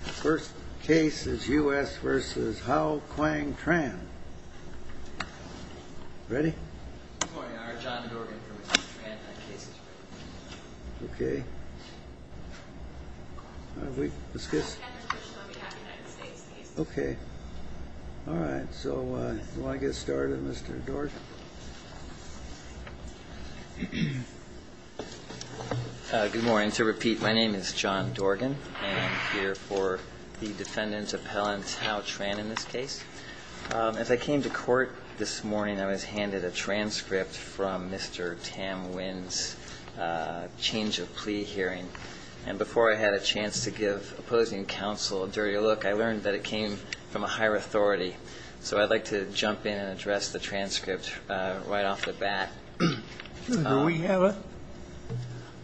First case is U.S. v. Hao-Kwang Tran. Ready? Good morning, I'm John Dorgan from U.S. v. Tran. Okay. Let's get started. Okay. Alright, so do you want to get started, Mr. Dorgan? Good morning. To repeat, my name is John Dorgan, and I'm here for the defendant's appellant, Hao-Kwang Tran, in this case. As I came to court this morning, I was handed a transcript from Mr. Tam Nguyen's change of plea hearing. And before I had a chance to give opposing counsel a dirtier look, I learned that it came from a higher authority. So I'd like to jump in and address the transcript right off the bat. Do we have it?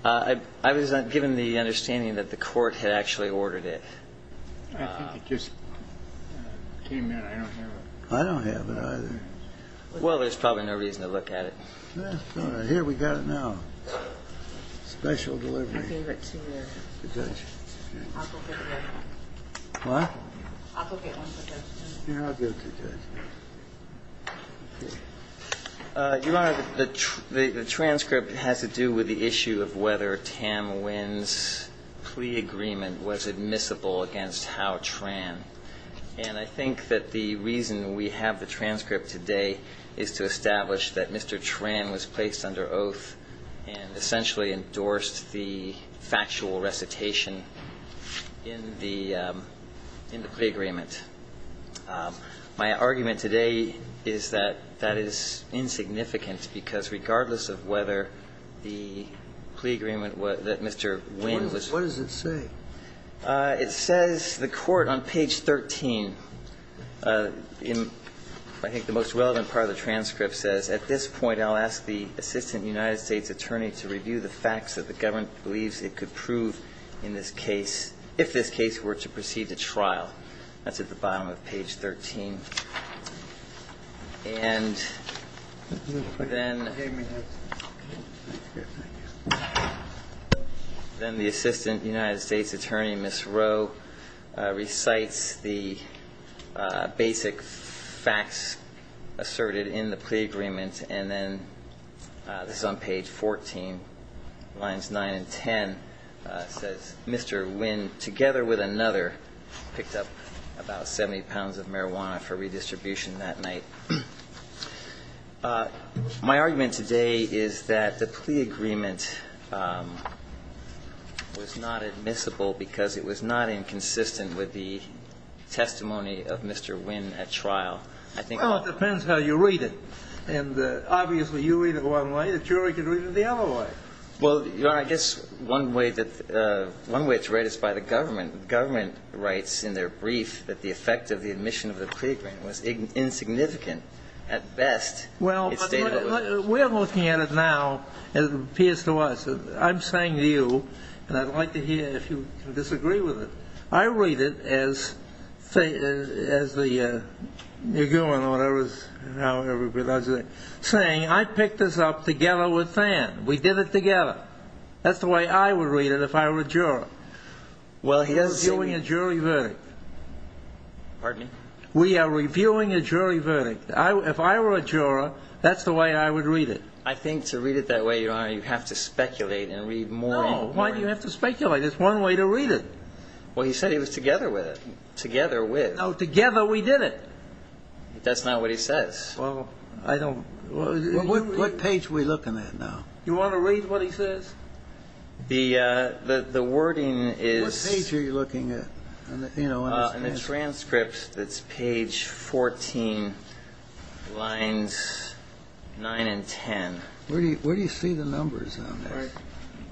I was given the understanding that the court had actually ordered it. I think it just came in. I don't have it. I don't have it either. Well, there's probably no reason to look at it. Here, we got it now. Special delivery. I gave it to the judge. What? I'll go get one for the judge. Yeah, I'll give it to the judge. Your Honor, the transcript has to do with the issue of whether Tam Nguyen's plea agreement was admissible against Hao Tran. And I think that the reason we have the transcript today is to establish that Mr. Tran was placed under oath and essentially endorsed the factual recitation in the plea agreement. My argument today is that that is insignificant, because regardless of whether the plea agreement that Mr. Nguyen was ---- What does it say? It says the court on page 13, in I think the most relevant part of the transcript, says, at this point, I'll ask the assistant United States attorney to review the facts that the government believes it could prove in this case, if this case were to proceed to trial. That's at the bottom of page 13. And then the assistant United States attorney, Ms. Rowe, recites the basic facts asserted in the plea agreement. And then this is on page 14, lines 9 and 10, says, Mr. Nguyen, together with another, picked up about 70 pounds of marijuana for redistribution that night. My argument today is that the plea agreement was not admissible because it was not inconsistent with the testimony of Mr. Nguyen at trial. Well, it depends how you read it. And obviously you read it one way. The jury can read it the other way. Well, Your Honor, I guess one way it's read is by the government. The government writes in their brief that the effect of the admission of the plea agreement was insignificant. At best, it stated it was ---- Well, we're looking at it now, as it appears to us. I'm saying to you, and I'd like to hear if you disagree with it, I read it as the Nguyen or whatever is now everybody loves it, saying, I picked this up together with Fan. We did it together. That's the way I would read it if I were a juror. We are reviewing a jury verdict. Pardon me? We are reviewing a jury verdict. If I were a juror, that's the way I would read it. I think to read it that way, Your Honor, you have to speculate and read more and more. No, why do you have to speculate? It's one way to read it. Well, he said he was together with it. Together with. No, together we did it. That's not what he says. Well, I don't ---- What page are we looking at now? Do you want to read what he says? The wording is ---- What page are you looking at? In the transcript, it's page 14, lines 9 and 10. Where do you see the numbers on this?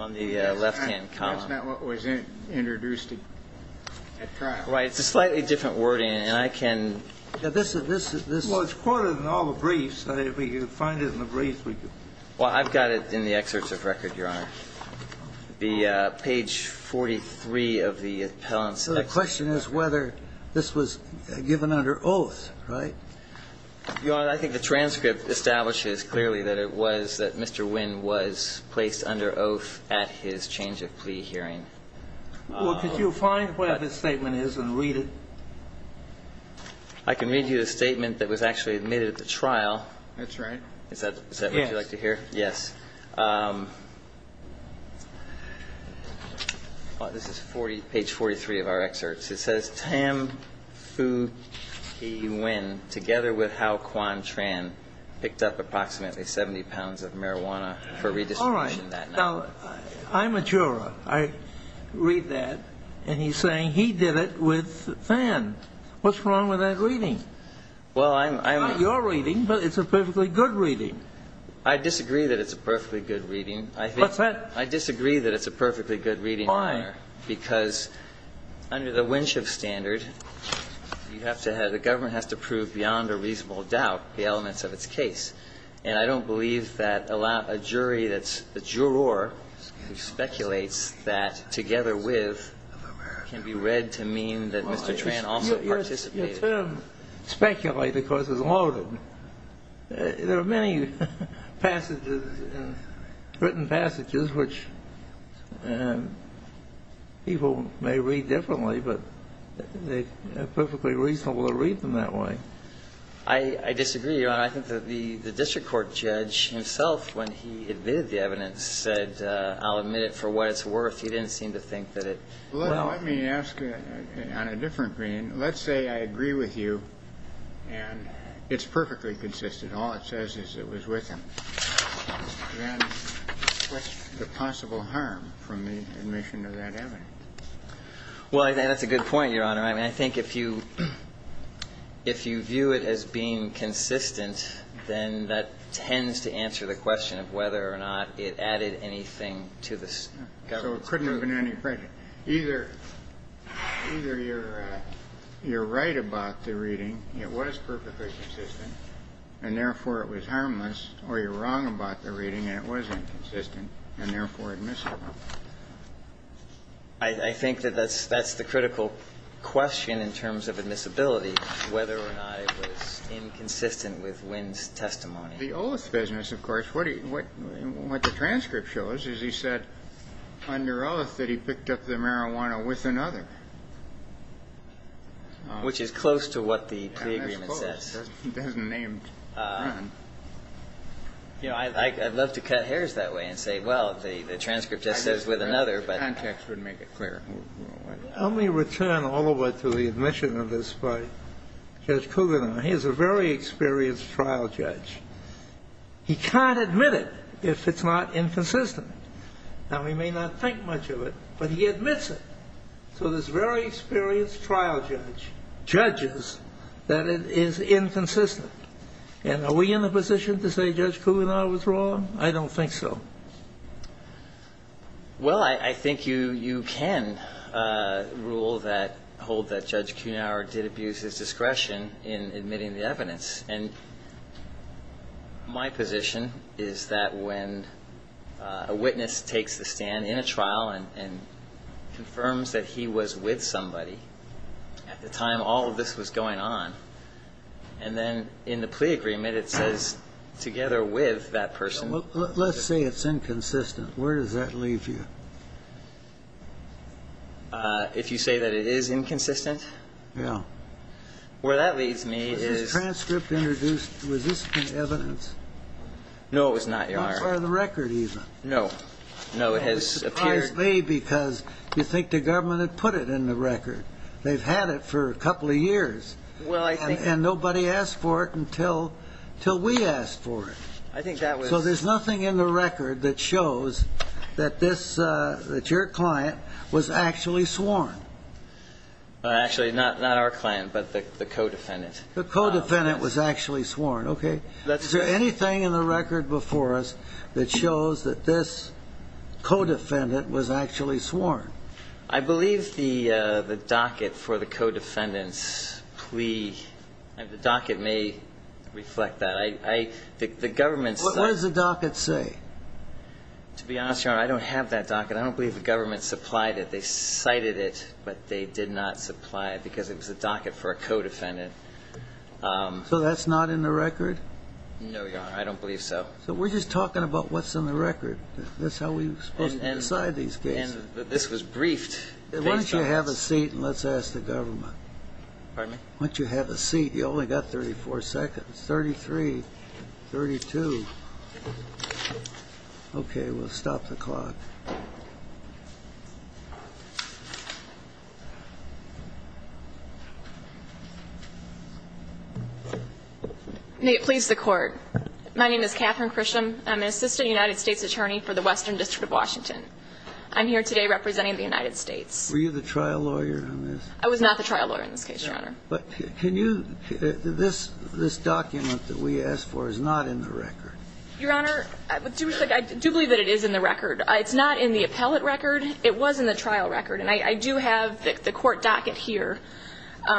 On the left-hand column. That's not what was introduced at trial. Right. It's a slightly different wording, and I can ---- This is ---- Well, it's quoted in all the briefs. If we could find it in the briefs, we could ---- Well, I've got it in the excerpts of record, Your Honor. The page 43 of the appellant's ---- So the question is whether this was given under oath, right? Your Honor, I think the transcript establishes clearly that it was that Mr. Wynn was placed under oath at his change of plea hearing. Well, could you find where this statement is and read it? I can read you the statement that was actually admitted at the trial. That's right. Is that what you'd like to hear? Yes. Yes. This is page 43 of our excerpts. It says, All right. Now, I'm a juror. I read that. And he's saying he did it with Fan. What's wrong with that reading? Well, I'm ---- It's not your reading, but it's a perfectly good reading. I disagree that it's a perfectly good reading. I think ---- What's that? I disagree that it's a perfectly good reading, Your Honor. Why? Because under the winch of standards, it's a perfectly good reading. Under the winch of standards, you have to have the government has to prove beyond a reasonable doubt the elements of its case. And I don't believe that a jury that's a juror who speculates that together with can be read to mean that Mr. Tran also participated. Your term, speculate, of course, is loaded. There are many passages, written passages, which people may read differently, but they're perfectly reasonable to read them that way. I disagree, Your Honor. I think that the district court judge himself, when he admitted the evidence, said, I'll admit it for what it's worth. He didn't seem to think that it ---- Well, let me ask on a different grain. Let's say I agree with you and it's perfectly consistent. All it says is it was with him. Then what's the possible harm from the admission of that evidence? Well, I think that's a good point, Your Honor. I mean, I think if you view it as being consistent, then that tends to answer the question of whether or not it added anything to the government's claim. So it couldn't have been any further. Either you're right about the reading, it was perfectly consistent, and therefore it was harmless, or you're wrong about the reading and it was inconsistent and therefore admissible. I think that that's the critical question in terms of admissibility, whether or not it was inconsistent with Wynn's testimony. The Oath Business, of course, what the transcript shows is he said under oath that he picked up the marijuana with another. Which is close to what the pre-agreement says. And that's close. It hasn't named Wynn. You know, I'd love to cut hairs that way and say, well, the transcript just says with another, but the context wouldn't make it clear. Let me return all the way to the admission of this by Judge Cougar. Now, he is a very experienced trial judge. He can't admit it if it's not inconsistent. Now, he may not think much of it, but he admits it. So this very experienced trial judge judges that it is inconsistent. And are we in a position to say Judge Cougar was wrong? I don't think so. Well, I think you can hold that Judge Cougar did abuse his discretion in admitting the evidence, and my position is that when a witness takes the stand in a trial and confirms that he was with somebody at the time all of this was going on, and then in the plea agreement it says together with that person. Let's say it's inconsistent. Where does that leave you? If you say that it is inconsistent? Where that leads me is... Was this transcript introduced? Was this evidence? No, it was not, Your Honor. Not part of the record, even. No. No, it has appeared... It's a surprise to me because you'd think the government had put it in the record. They've had it for a couple of years. Well, I think... And nobody asked for it until we asked for it. I think that was... So there's nothing in the record that shows that this, that your client was actually sworn? Actually, not our client, but the co-defendant. The co-defendant was actually sworn. Okay. Is there anything in the record before us that shows that this co-defendant was actually sworn? I believe the docket for the co-defendant's plea... The docket may reflect that. The government... What does the docket say? To be honest, Your Honor, I don't have that docket. I don't believe the government supplied it. They cited it, but they did not supply it because it was a docket for a co-defendant. So that's not in the record? No, Your Honor. I don't believe so. So we're just talking about what's in the record. That's how we're supposed to decide these cases. This was briefed. Why don't you have a seat and let's ask the government? Pardon me? Why don't you have a seat? You've only got 34 seconds. 33, 32. Okay. We'll stop the clock. May it please the Court. My name is Catherine Chrisham. I'm an assistant United States attorney for the Western District of Washington. I'm here today representing the United States. Were you the trial lawyer in this? I was not the trial lawyer in this case, Your Honor. But can you... This document that we asked for is not in the record. Your Honor, I do believe that it is in the record. It's not in the appellate record. It was in the trial record, and I do have the court docket here,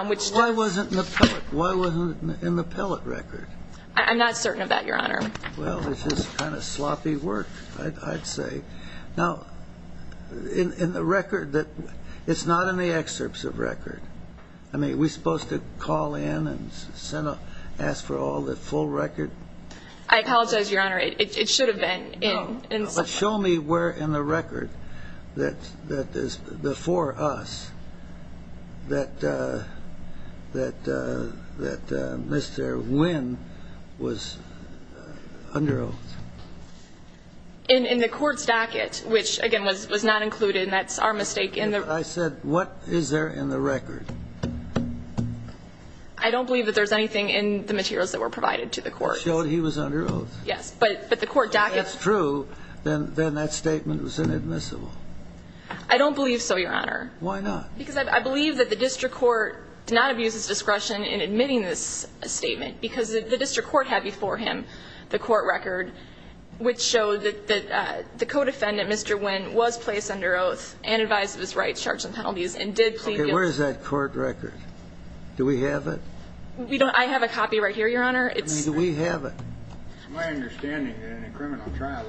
which... Why wasn't it in the appellate record? I'm not certain of that, Your Honor. Well, it's just kind of sloppy work, I'd say. Now, in the record that... It's not in the excerpts of record. I mean, are we supposed to call in and ask for all the full record? I apologize, Your Honor. It should have been in... Show me where in the record that is before us that Mr. Wynn was under oath. In the court's docket, which, again, was not included, and that's our mistake. I said, what is there in the record? I don't believe that there's anything in the materials that were provided to the court. It showed he was under oath. Yes, but the court docket... If that's true, then that statement was inadmissible. I don't believe so, Your Honor. Why not? Because I believe that the district court did not abuse its discretion in admitting this statement because the district court had before him the court record, which showed that the co-defendant, Mr. Wynn, was placed under oath and advised of his rights, charges, and penalties, and did plead guilty. Okay, where is that court record? Do we have it? I have a copy right here, Your Honor. I mean, do we have it? It's my understanding that in a criminal trial,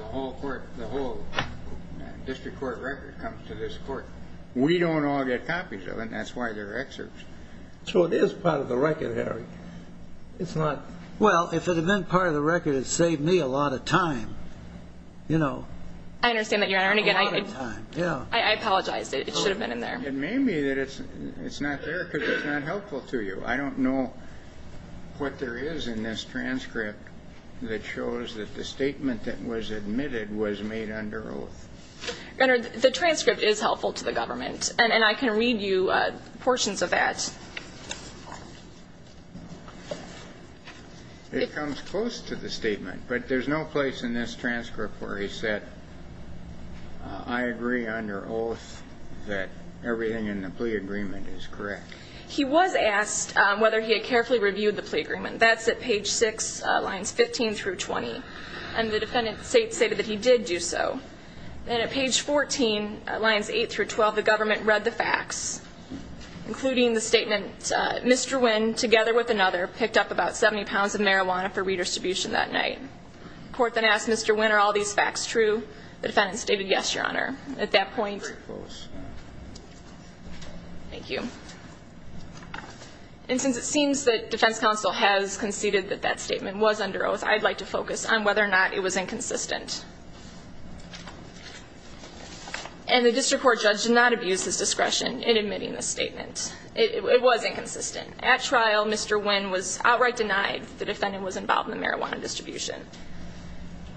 the whole district court record comes to this court. We don't all get copies of it, and that's why they're excerpts. So it is part of the record, Harry. It's not... Well, if it had been part of the record, it would have saved me a lot of time, you know. I understand that, Your Honor. A lot of time, yeah. I apologize. It should have been in there. It may be that it's not there because it's not helpful to you. I don't know what there is in this transcript that shows that the statement that was admitted was made under oath. Your Honor, the transcript is helpful to the government, and I can read you portions of that. It comes close to the statement, but there's no place in this transcript where he said, I agree under oath that everything in the plea agreement is correct. He was asked whether he had carefully reviewed the plea agreement. That's at page 6, lines 15 through 20. And the defendant stated that he did do so. And at page 14, lines 8 through 12, the government read the facts, including the statement, Mr. Wynn, together with another, picked up about 70 pounds of marijuana for redistribution that night. The court then asked, Mr. Wynn, are all these facts true? The defendant stated, yes, Your Honor. At that point... Very close. Thank you. And since it seems that defense counsel has conceded that that statement was under oath, I'd like to focus on whether or not it was inconsistent. And the district court judge did not abuse his discretion in admitting this statement. It was inconsistent. At trial, Mr. Wynn was outright denied that the defendant was involved in the marijuana distribution.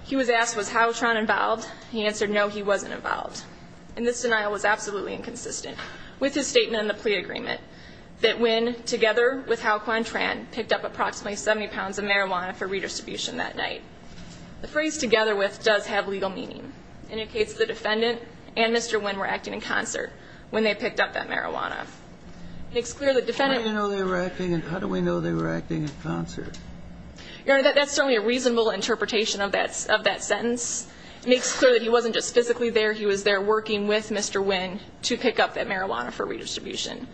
He was asked, was Hal Quantran involved? He answered, no, he wasn't involved. And this denial was absolutely inconsistent with his statement in the plea agreement that Wynn, together with Hal Quantran, picked up approximately 70 pounds of marijuana for redistribution that night. The phrase together with does have legal meaning. It indicates the defendant and Mr. Wynn were acting in concert when they picked up that marijuana. It makes clear the defendant... How do we know they were acting in concert? Your Honor, that's certainly a reasonable interpretation of that sentence. It makes clear that he wasn't just physically there. He was there working with Mr. Wynn to pick up that marijuana for redistribution.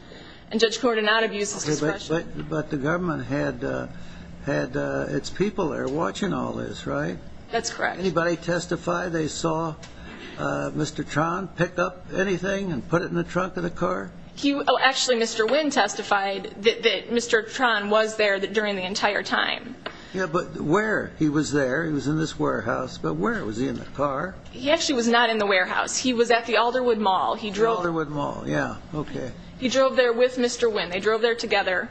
And Judge Korn did not abuse his discretion. But the government had its people there watching all this, right? That's correct. Anybody testify they saw Mr. Quantran pick up anything and put it in the trunk of the car? Actually, Mr. Wynn testified that Mr. Quantran was there during the entire time. Yeah, but where? He was there. He was in this warehouse. But where? Was he in the car? He actually was not in the warehouse. He was at the Alderwood Mall. The Alderwood Mall, yeah, okay. He drove there with Mr. Wynn. They drove there together.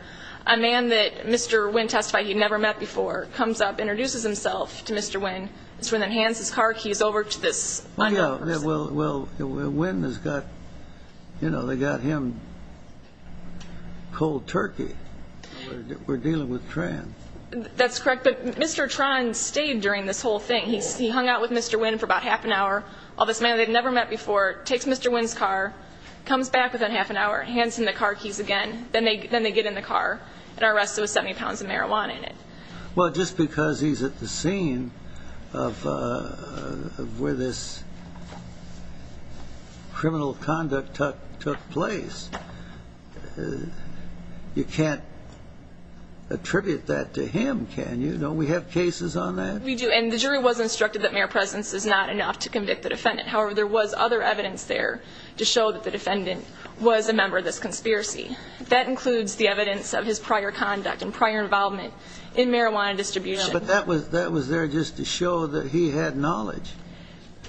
A man that Mr. Wynn testified he'd never met before comes up, introduces himself to Mr. Wynn. Mr. Wynn then hands his car keys over to this other person. Well, yeah, well, Wynn has got, you know, they got him cold turkey. We're dealing with Tran. That's correct. But Mr. Tran stayed during this whole thing. He hung out with Mr. Wynn for about half an hour. All this man they'd never met before takes Mr. Wynn's car, comes back within half an hour, hands him the car keys again, then they get in the car and are arrested with 70 pounds of marijuana in it. Well, just because he's at the scene of where this criminal conduct took place, you can't attribute that to him, can you? Don't we have cases on that? We do, and the jury was instructed that mere presence is not enough to convict the defendant. However, there was other evidence there to show that the defendant was a member of this conspiracy. That includes the evidence of his prior conduct and prior involvement in marijuana distribution. But that was there just to show that he had knowledge.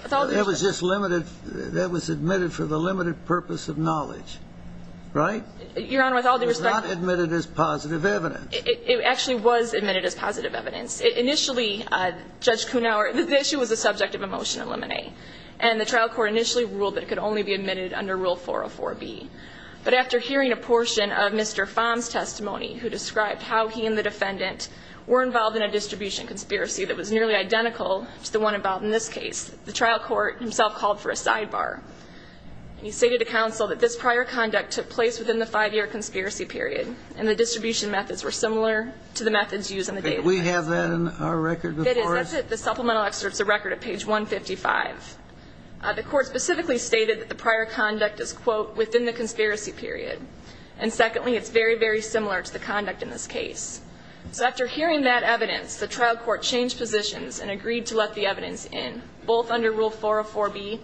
That was just limited. That was admitted for the limited purpose of knowledge, right? Your Honor, with all due respect. It was not admitted as positive evidence. It actually was admitted as positive evidence. Initially, Judge Kuhnauer, the issue was the subject of a motion to eliminate. And the trial court initially ruled that it could only be admitted under Rule 404B. But after hearing a portion of Mr. Fahm's testimony, who described how he and the defendant were involved in a distribution conspiracy that was nearly identical to the one involved in this case, the trial court himself called for a sidebar. He stated to counsel that this prior conduct took place within the five-year conspiracy period, and the distribution methods were similar to the methods used in the case. Did we have that in our record before us? That's it. The supplemental excerpt is a record at page 155. The court specifically stated that the prior conduct is, quote, within the conspiracy period. And secondly, it's very, very similar to the conduct in this case. So after hearing that evidence, the trial court changed positions and agreed to let the evidence in, both under Rule 404B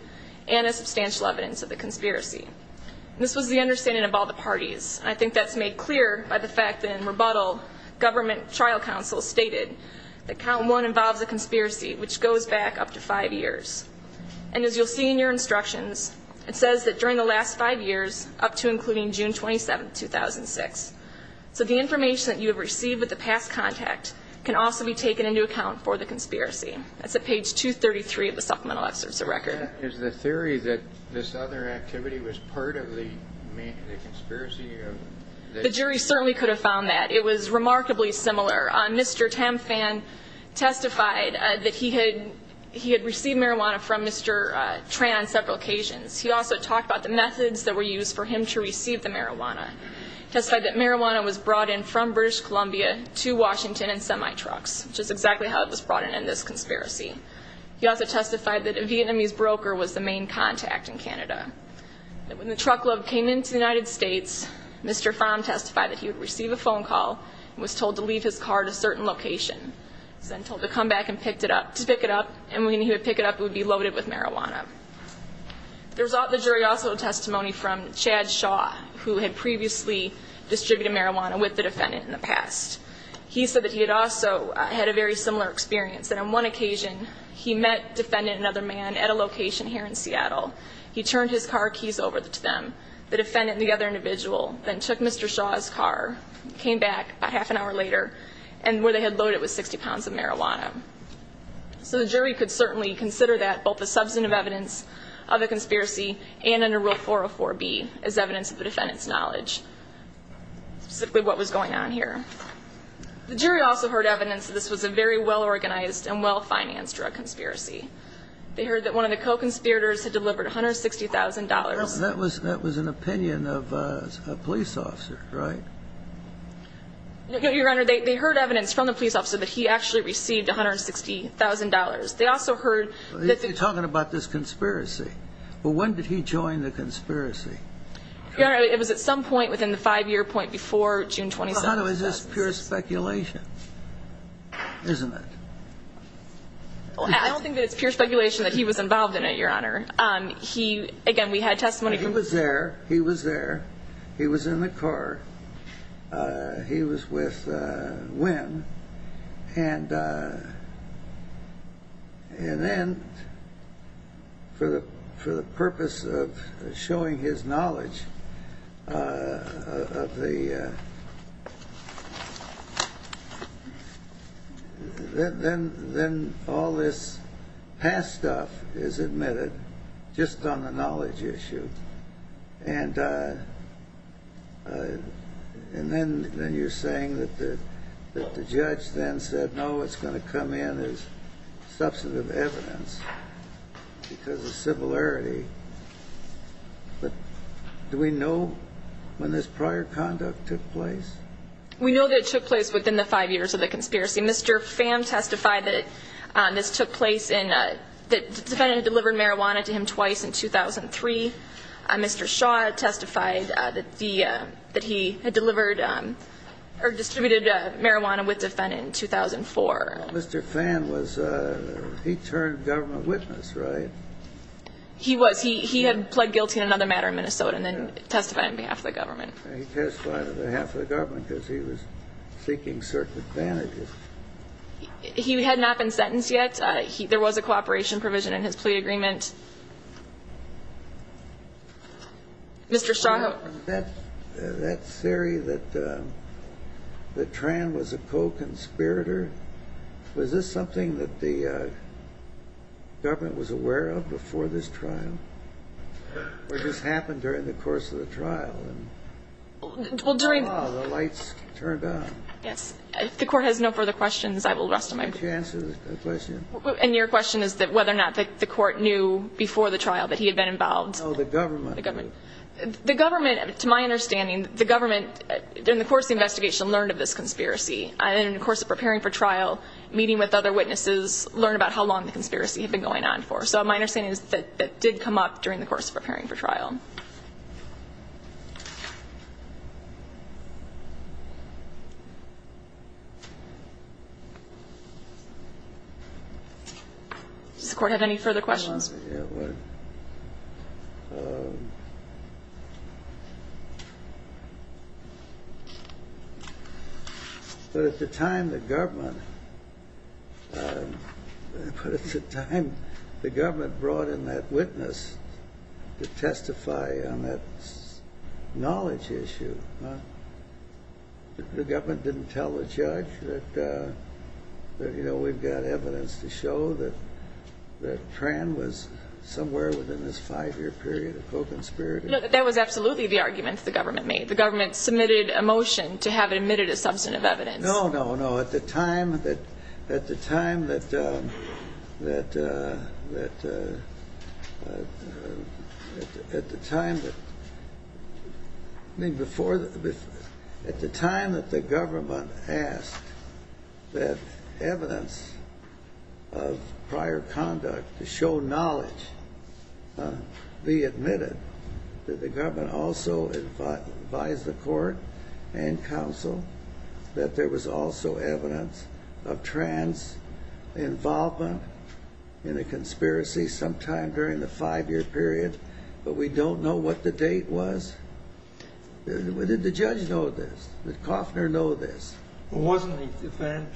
and as substantial evidence of the conspiracy. This was the understanding of all the parties. I think that's made clear by the fact that in rebuttal, government trial counsel stated that Count 1 involves a conspiracy which goes back up to five years. And as you'll see in your instructions, it says that during the last five years up to including June 27, 2006. So the information that you have received with the past contact can also be taken into account for the conspiracy. That's at page 233 of the supplemental excerpt. It's a record. Is the theory that this other activity was part of the conspiracy? The jury certainly could have found that. It was remarkably similar. Mr. Tamphan testified that he had received marijuana from Mr. Tran on several occasions. He also talked about the methods that were used for him to receive the marijuana. He testified that marijuana was brought in from British Columbia to Washington in semi-trucks, which is exactly how it was brought in in this conspiracy. He also testified that a Vietnamese broker was the main contact in Canada. When the truckload came into the United States, Mr. Pham testified that he would receive a phone call and was told to leave his car at a certain location. He was then told to come back and pick it up, and when he would pick it up it would be loaded with marijuana. The jury also had testimony from Chad Shaw, who had previously distributed marijuana with the defendant in the past. He said that he had also had a very similar experience, that on one occasion he met defendant and other man at a location here in Seattle. He turned his car keys over to them, the defendant and the other individual, then took Mr. Shaw's car, came back about half an hour later, and where they had loaded it was 60 pounds of marijuana. So the jury could certainly consider that both the substantive evidence of the conspiracy and under Rule 404B as evidence of the defendant's knowledge, specifically what was going on here. The jury also heard evidence that this was a very well-organized and well-financed drug conspiracy. They heard that one of the co-conspirators had delivered $160,000. That was an opinion of a police officer, right? Your Honor, they heard evidence from the police officer that he actually received $160,000. They also heard that the... You're talking about this conspiracy. Well, when did he join the conspiracy? Your Honor, it was at some point within the five-year point before June 27th. Your Honor, is this pure speculation? Isn't it? I don't think that it's pure speculation that he was involved in it, Your Honor. Again, we had testimony from... He was there. He was there. He was in the car. He was with Wynn. And then, for the purpose of showing his knowledge of the... Then all this past stuff is admitted just on the knowledge issue. And then you're saying that the judge then said, no, it's going to come in as substantive evidence because of similarity. But do we know when this prior conduct took place? We know that it took place within the five years of the conspiracy. Mr. Pham testified that this took place in... The defendant delivered marijuana to him twice in 2003. Mr. Shaw testified that he had delivered or distributed marijuana with the defendant in 2004. Mr. Pham was... He turned government witness, right? He was. He had pled guilty in another matter in Minnesota and then testified on behalf of the government. He testified on behalf of the government because he was seeking certain advantages. He had not been sentenced yet. There was a cooperation provision in his plea agreement. Mr. Shaw. That theory that Tran was a co-conspirator, was this something that the government was aware of before this trial or just happened during the course of the trial? Well, during... Oh, the lights turned on. Yes. If the Court has no further questions, I will rest on my... Why don't you answer the question? And your question is whether or not the Court knew before the trial that he had been involved? No, the government knew. The government. The government, to my understanding, the government, during the course of the investigation, learned of this conspiracy. And in the course of preparing for trial, meeting with other witnesses, learned about how long the conspiracy had been going on for. So my understanding is that that did come up during the course of preparing for trial. Does the Court have any further questions? Yes. But at the time the government... But at the time the government brought in that witness to testify on that knowledge issue, the government didn't tell the judge that, you know, we've got evidence to show that Tran was somewhere within his five-year period of co-conspiracy. No, that was absolutely the argument the government made. The government submitted a motion to have it admitted as substantive evidence. No, no, no. At the time that... At the time that... of prior conduct to show knowledge, be admitted, did the government also advise the Court and counsel that there was also evidence of Tran's involvement in a conspiracy sometime during the five-year period? But we don't know what the date was. Did the judge know this? Did Coffner know this? Well, wasn't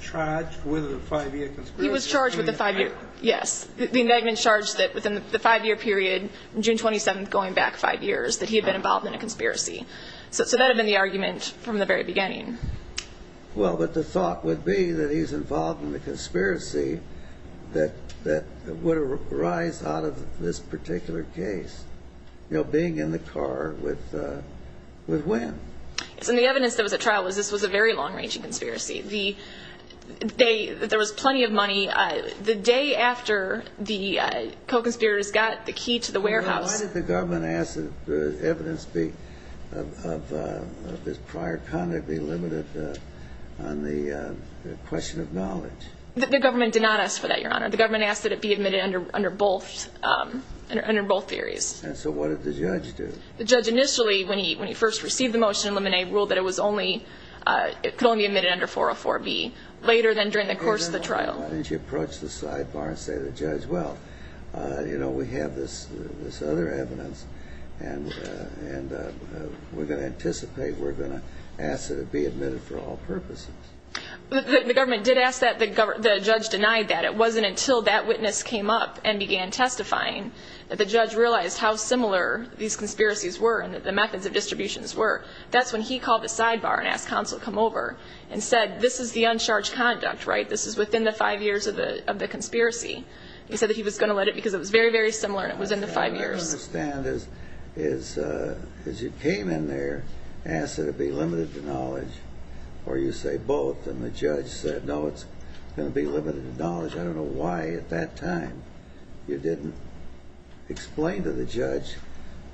Tran charged with a five-year conspiracy? He was charged with a five-year, yes. The indictment charged that within the five-year period, June 27th going back five years, that he had been involved in a conspiracy. So that had been the argument from the very beginning. Well, but the thought would be that he's involved in a conspiracy that would arise out of this particular case, you know, being in the car with Wynn. So the evidence that was at trial was this was a very long-ranging conspiracy. There was plenty of money. The day after the co-conspirators got the key to the warehouse... Why did the government ask that the evidence of his prior conduct be limited on the question of knowledge? The government did not ask for that, Your Honor. The government asked that it be admitted under both theories. And so what did the judge do? The judge initially, when he first received the motion to eliminate, ruled that it could only be admitted under 404B later than during the course of the trial. Why didn't you approach the sidebar and say to the judge, well, you know, we have this other evidence, and we're going to anticipate we're going to ask that it be admitted for all purposes? The government did ask that. The judge denied that. It wasn't until that witness came up and began testifying that the judge realized how similar these conspiracies were and the methods of distributions were. That's when he called the sidebar and asked counsel to come over and said, this is the uncharged conduct, right? This is within the five years of the conspiracy. He said that he was going to let it because it was very, very similar and it was in the five years. I understand. As you came in there, asked that it be limited to knowledge, or you say both, I don't know why at that time you didn't explain to the judge,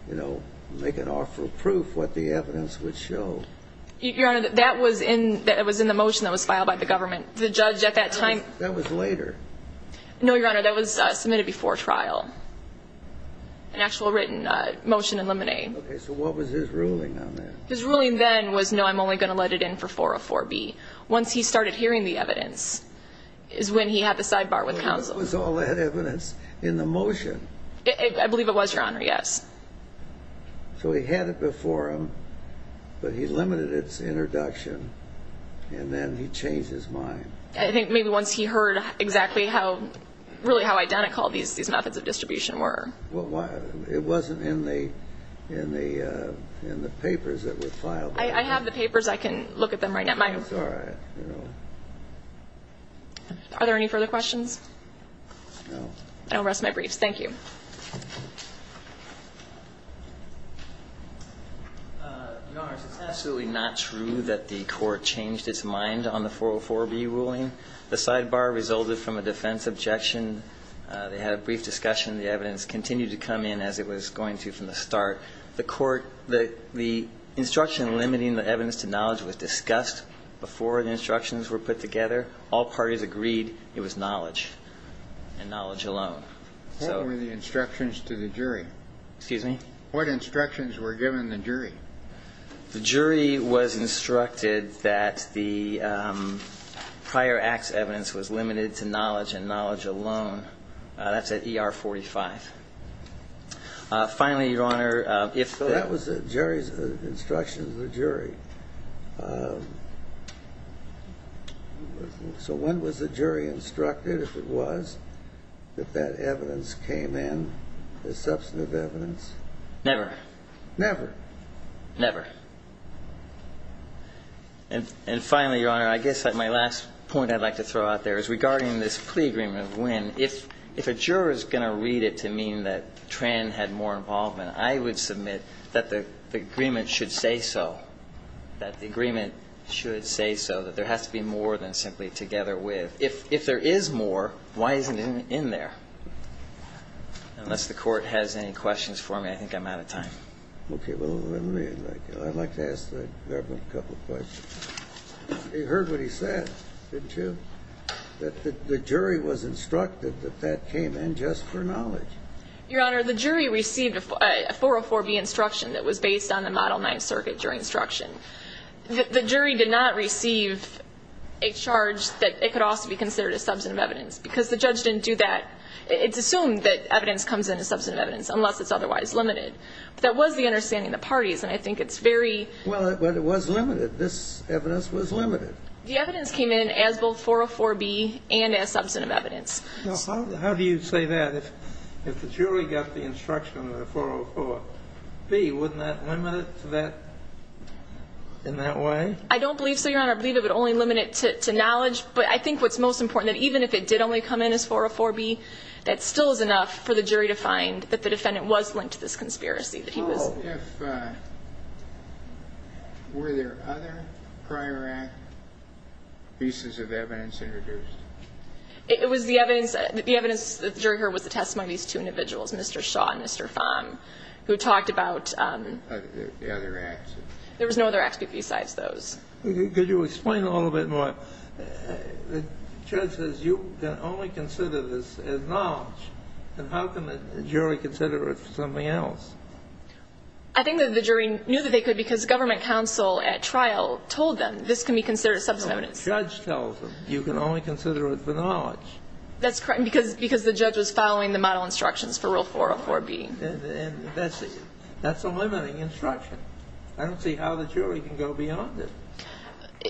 you know, make an offer of proof what the evidence would show. Your Honor, that was in the motion that was filed by the government. The judge at that time. That was later. No, Your Honor, that was submitted before trial, an actual written motion to eliminate. Okay, so what was his ruling on that? His ruling then was, no, I'm only going to let it in for 404B. Once he started hearing the evidence is when he had the sidebar with counsel. Was all that evidence in the motion? I believe it was, Your Honor, yes. So he had it before him, but he limited its introduction, and then he changed his mind. I think maybe once he heard exactly how, really how identical these methods of distribution were. It wasn't in the papers that were filed. I have the papers. I can look at them right now. It's all right. Are there any further questions? No. I'll rest my briefs. Thank you. Your Honor, it's absolutely not true that the court changed its mind on the 404B ruling. The sidebar resulted from a defense objection. They had a brief discussion. The evidence continued to come in as it was going to from the start. The instruction limiting the evidence to knowledge was discussed before the instructions were put together. All parties agreed it was knowledge and knowledge alone. What were the instructions to the jury? Excuse me? What instructions were given the jury? The jury was instructed that the prior act's evidence was limited to knowledge and knowledge alone. That's at ER 45. Finally, Your Honor, if the- That was the jury's instruction to the jury. So when was the jury instructed, if it was, that that evidence came in as substantive evidence? Never. Never? Never. And finally, Your Honor, I guess my last point I'd like to throw out there is regarding this plea agreement. If a juror is going to read it to mean that Tran had more involvement, I would submit that the agreement should say so, that the agreement should say so, that there has to be more than simply together with. If there is more, why isn't it in there? Unless the court has any questions for me, I think I'm out of time. Okay, well, let me, I'd like to ask the government a couple questions. You heard what he said, didn't you? That the jury was instructed that that came in just for knowledge. Your Honor, the jury received a 404B instruction that was based on the Model 9 circuit during instruction. The jury did not receive a charge that it could also be considered a substantive evidence, because the judge didn't do that. It's assumed that evidence comes in as substantive evidence, unless it's otherwise limited. But that was the understanding of the parties, and I think it's very- Well, it was limited. This evidence was limited. The evidence came in as both 404B and as substantive evidence. Now, how do you say that? If the jury got the instruction of the 404B, wouldn't that limit it to that, in that way? I don't believe so, Your Honor. I believe it would only limit it to knowledge, but I think what's most important, that even if it did only come in as 404B, that still is enough for the jury to find that the defendant was linked to this conspiracy, that he was- Were there other prior act pieces of evidence introduced? It was the evidence that the jury heard was the testimony of these two individuals, Mr. Shaw and Mr. Fong, who talked about- The other acts. There was no other act besides those. Could you explain a little bit more? The judge says you can only consider this as knowledge, and how can the jury consider it for something else? I think that the jury knew that they could because government counsel at trial told them this can be considered substantive evidence. No, the judge tells them you can only consider it for knowledge. That's correct, because the judge was following the model instructions for Rule 404B. And that's a limiting instruction. I don't see how the jury can go beyond it.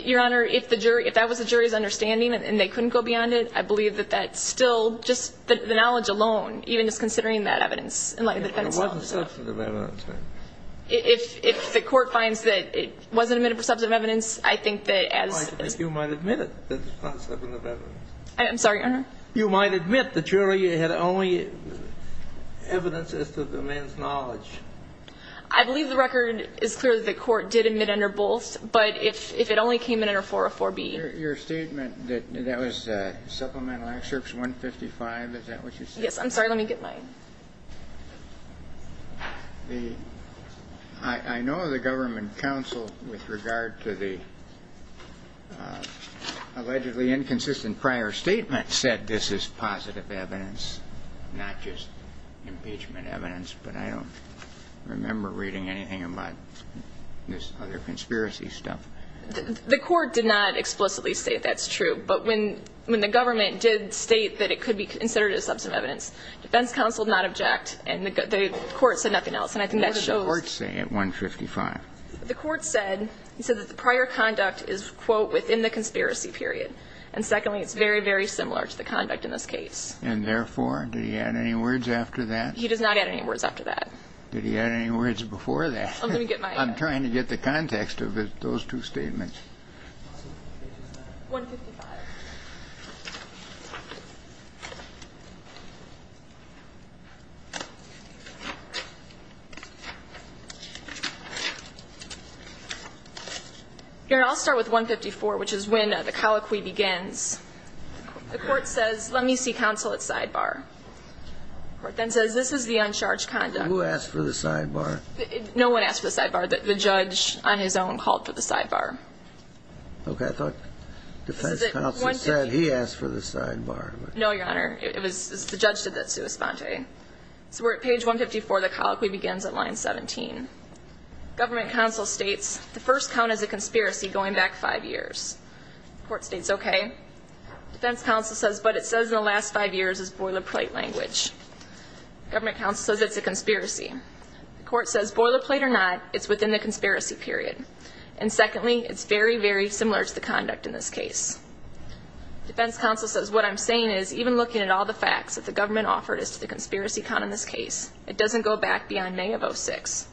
Your Honor, if the jury, if that was the jury's understanding and they couldn't go beyond it, I believe that that still, just the knowledge alone, even just considering that evidence in light of the defense- It wasn't substantive evidence, right? If the Court finds that it wasn't submitted for substantive evidence, I think that as- I think you might admit it as substantive evidence. I'm sorry, Your Honor? You might admit the jury had only evidence as to the man's knowledge. I believe the record is clear that the Court did admit under both, but if it only came in under 404B- Your statement that that was supplemental excerpts 155, is that what you said? Yes, I'm sorry. Let me get my- I know the government counsel with regard to the allegedly inconsistent prior statement said this is positive evidence, not just impeachment evidence, but I don't remember reading anything about this other conspiracy stuff. The Court did not explicitly state that's true, but when the government did state that it could be considered as substantive evidence, defense counsel did not object and the Court said nothing else. And I think that shows- What did the Court say at 155? The Court said, it said that the prior conduct is, quote, within the conspiracy period. And secondly, it's very, very similar to the conduct in this case. And therefore, did he add any words after that? He does not add any words after that. Did he add any words before that? Let me get my- I'm trying to get the context of those two statements. 155. Here, I'll start with 154, which is when the colloquy begins. The Court says, let me see counsel at sidebar. The Court then says, this is the uncharged conduct. Who asked for the sidebar? No one asked for the sidebar. The judge on his own called for the sidebar. Okay. I thought defense counsel said he asked for the sidebar. No, Your Honor. It was the judge that did the sua sponte. So we're at page 154. The colloquy begins at line 17. Government counsel states, the first count is a conspiracy going back five years. The Court states, okay. Defense counsel says, but it says in the last five years it's boilerplate language. Government counsel says it's a conspiracy. The Court says boilerplate or not, it's within the conspiracy period. And secondly, it's very, very similar to the conduct in this case. Defense counsel says, what I'm saying is, even looking at all the facts that the government offered as to the conspiracy count in this case, it doesn't go back beyond May of 06.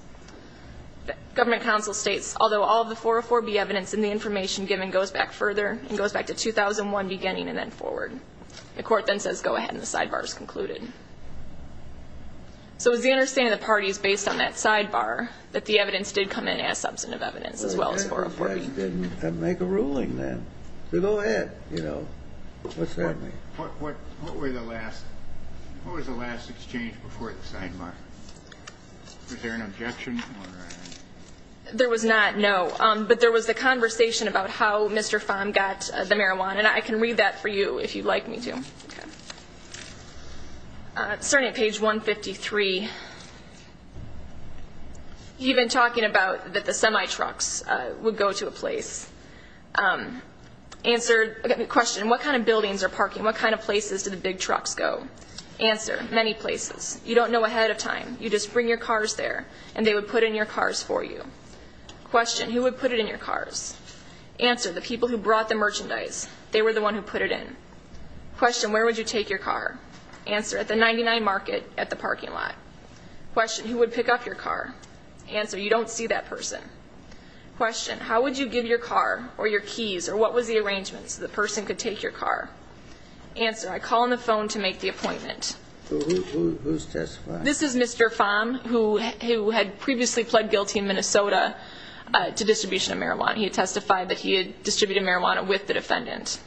Government counsel states, although all of the 404B evidence in the information given goes back further and goes back to 2001 beginning and then forward. The Court then says, go ahead, and the sidebar is concluded. So it was the understanding of the parties based on that sidebar that the evidence as well as 404B. Then make a ruling then. Go ahead. What's that mean? What was the last exchange before the sidebar? Was there an objection? There was not, no. But there was a conversation about how Mr. Fahm got the marijuana, and I can read that for you if you'd like me to. Okay. Starting at page 153, you've been talking about that the semi-trucks would go to a place. Answer, question, what kind of buildings are parking? What kind of places do the big trucks go? Answer, many places. You don't know ahead of time. You just bring your cars there, and they would put in your cars for you. Question, who would put it in your cars? Answer, the people who brought the merchandise. They were the one who put it in. Question, where would you take your car? Answer, at the 99 market at the parking lot. Question, who would pick up your car? Answer, you don't see that person. Question, how would you give your car or your keys or what was the arrangement so the person could take your car? Answer, I call on the phone to make the appointment. Who's testifying? This is Mr. Fahm, who had previously pled guilty in Minnesota to distribution of marijuana. He had testified that he had distributed marijuana with the defendant.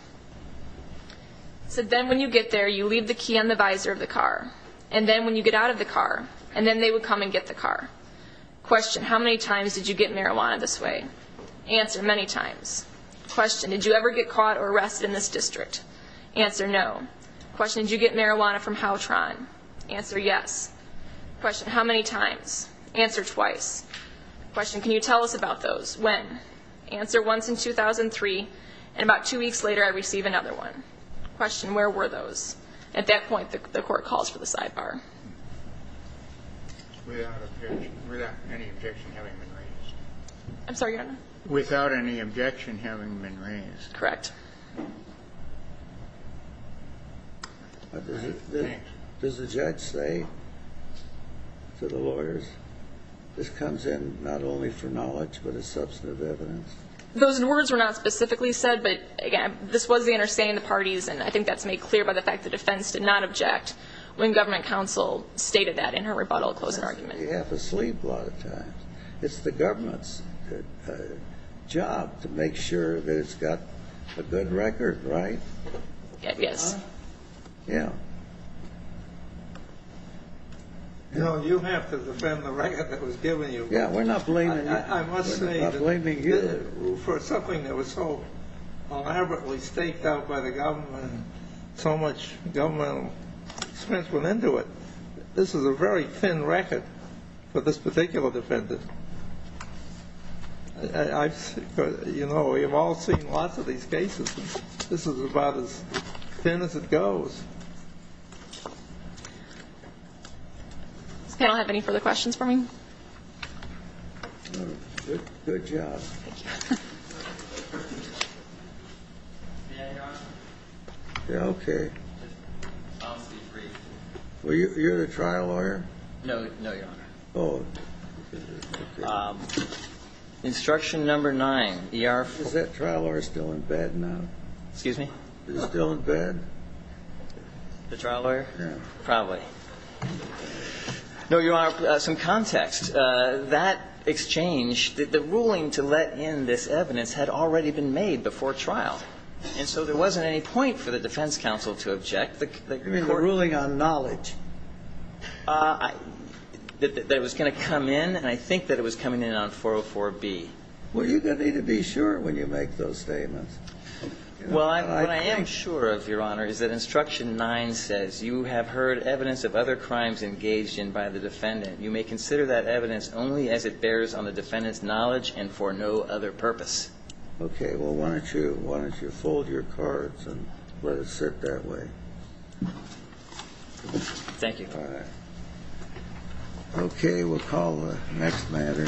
He said, then when you get there, you leave the key on the visor of the car. And then when you get out of the car, and then they would come and get the car. Question, how many times did you get marijuana this way? Answer, many times. Question, did you ever get caught or arrested in this district? Answer, no. Question, did you get marijuana from Howtron? Answer, yes. Question, how many times? Answer, twice. Question, can you tell us about those? When? Answer, once in 2003. And about two weeks later, I receive another one. Question, where were those? At that point, the court calls for the sidebar. Without any objection having been raised. I'm sorry, Your Honor? Without any objection having been raised. Correct. Does the judge say to the lawyers, this comes in not only for knowledge but as substantive evidence? Those words were not specifically said. But, again, this was the understanding of the parties. And I think that's made clear by the fact the defense did not object when government counsel stated that in her rebuttal closing argument. You have to sleep a lot of times. It's the government's job to make sure that it's got a good record, right? Yes. Yeah. No, you have to defend the record that was given you. Yeah, we're not blaming you. I must say that for something that was so elaborately staked out by the government and so much governmental expense went into it, this is a very thin record for this particular defendant. You know, we have all seen lots of these cases. This is about as thin as it goes. Does this panel have any further questions for me? Good job. Thank you. May I, Your Honor? Yeah, okay. Well, you're the trial lawyer. No, Your Honor. Oh. Instruction number 9. Is that trial lawyer still in bed now? Excuse me? Is he still in bed? The trial lawyer? Yeah. Probably. No, Your Honor, some context. That exchange, the ruling to let in this evidence had already been made before trial. And so there wasn't any point for the defense counsel to object. You mean the ruling on knowledge? That it was going to come in, and I think that it was coming in on 404B. Well, you're going to need to be sure when you make those statements. Well, what I am sure of, Your Honor, is that instruction 9 says, you have heard evidence of other crimes engaged in by the defendant. You may consider that evidence only as it bears on the defendant's knowledge and for no other purpose. Okay. Well, why don't you fold your cards and let it sit that way. Thank you. All right. Okay. We'll call the next matter.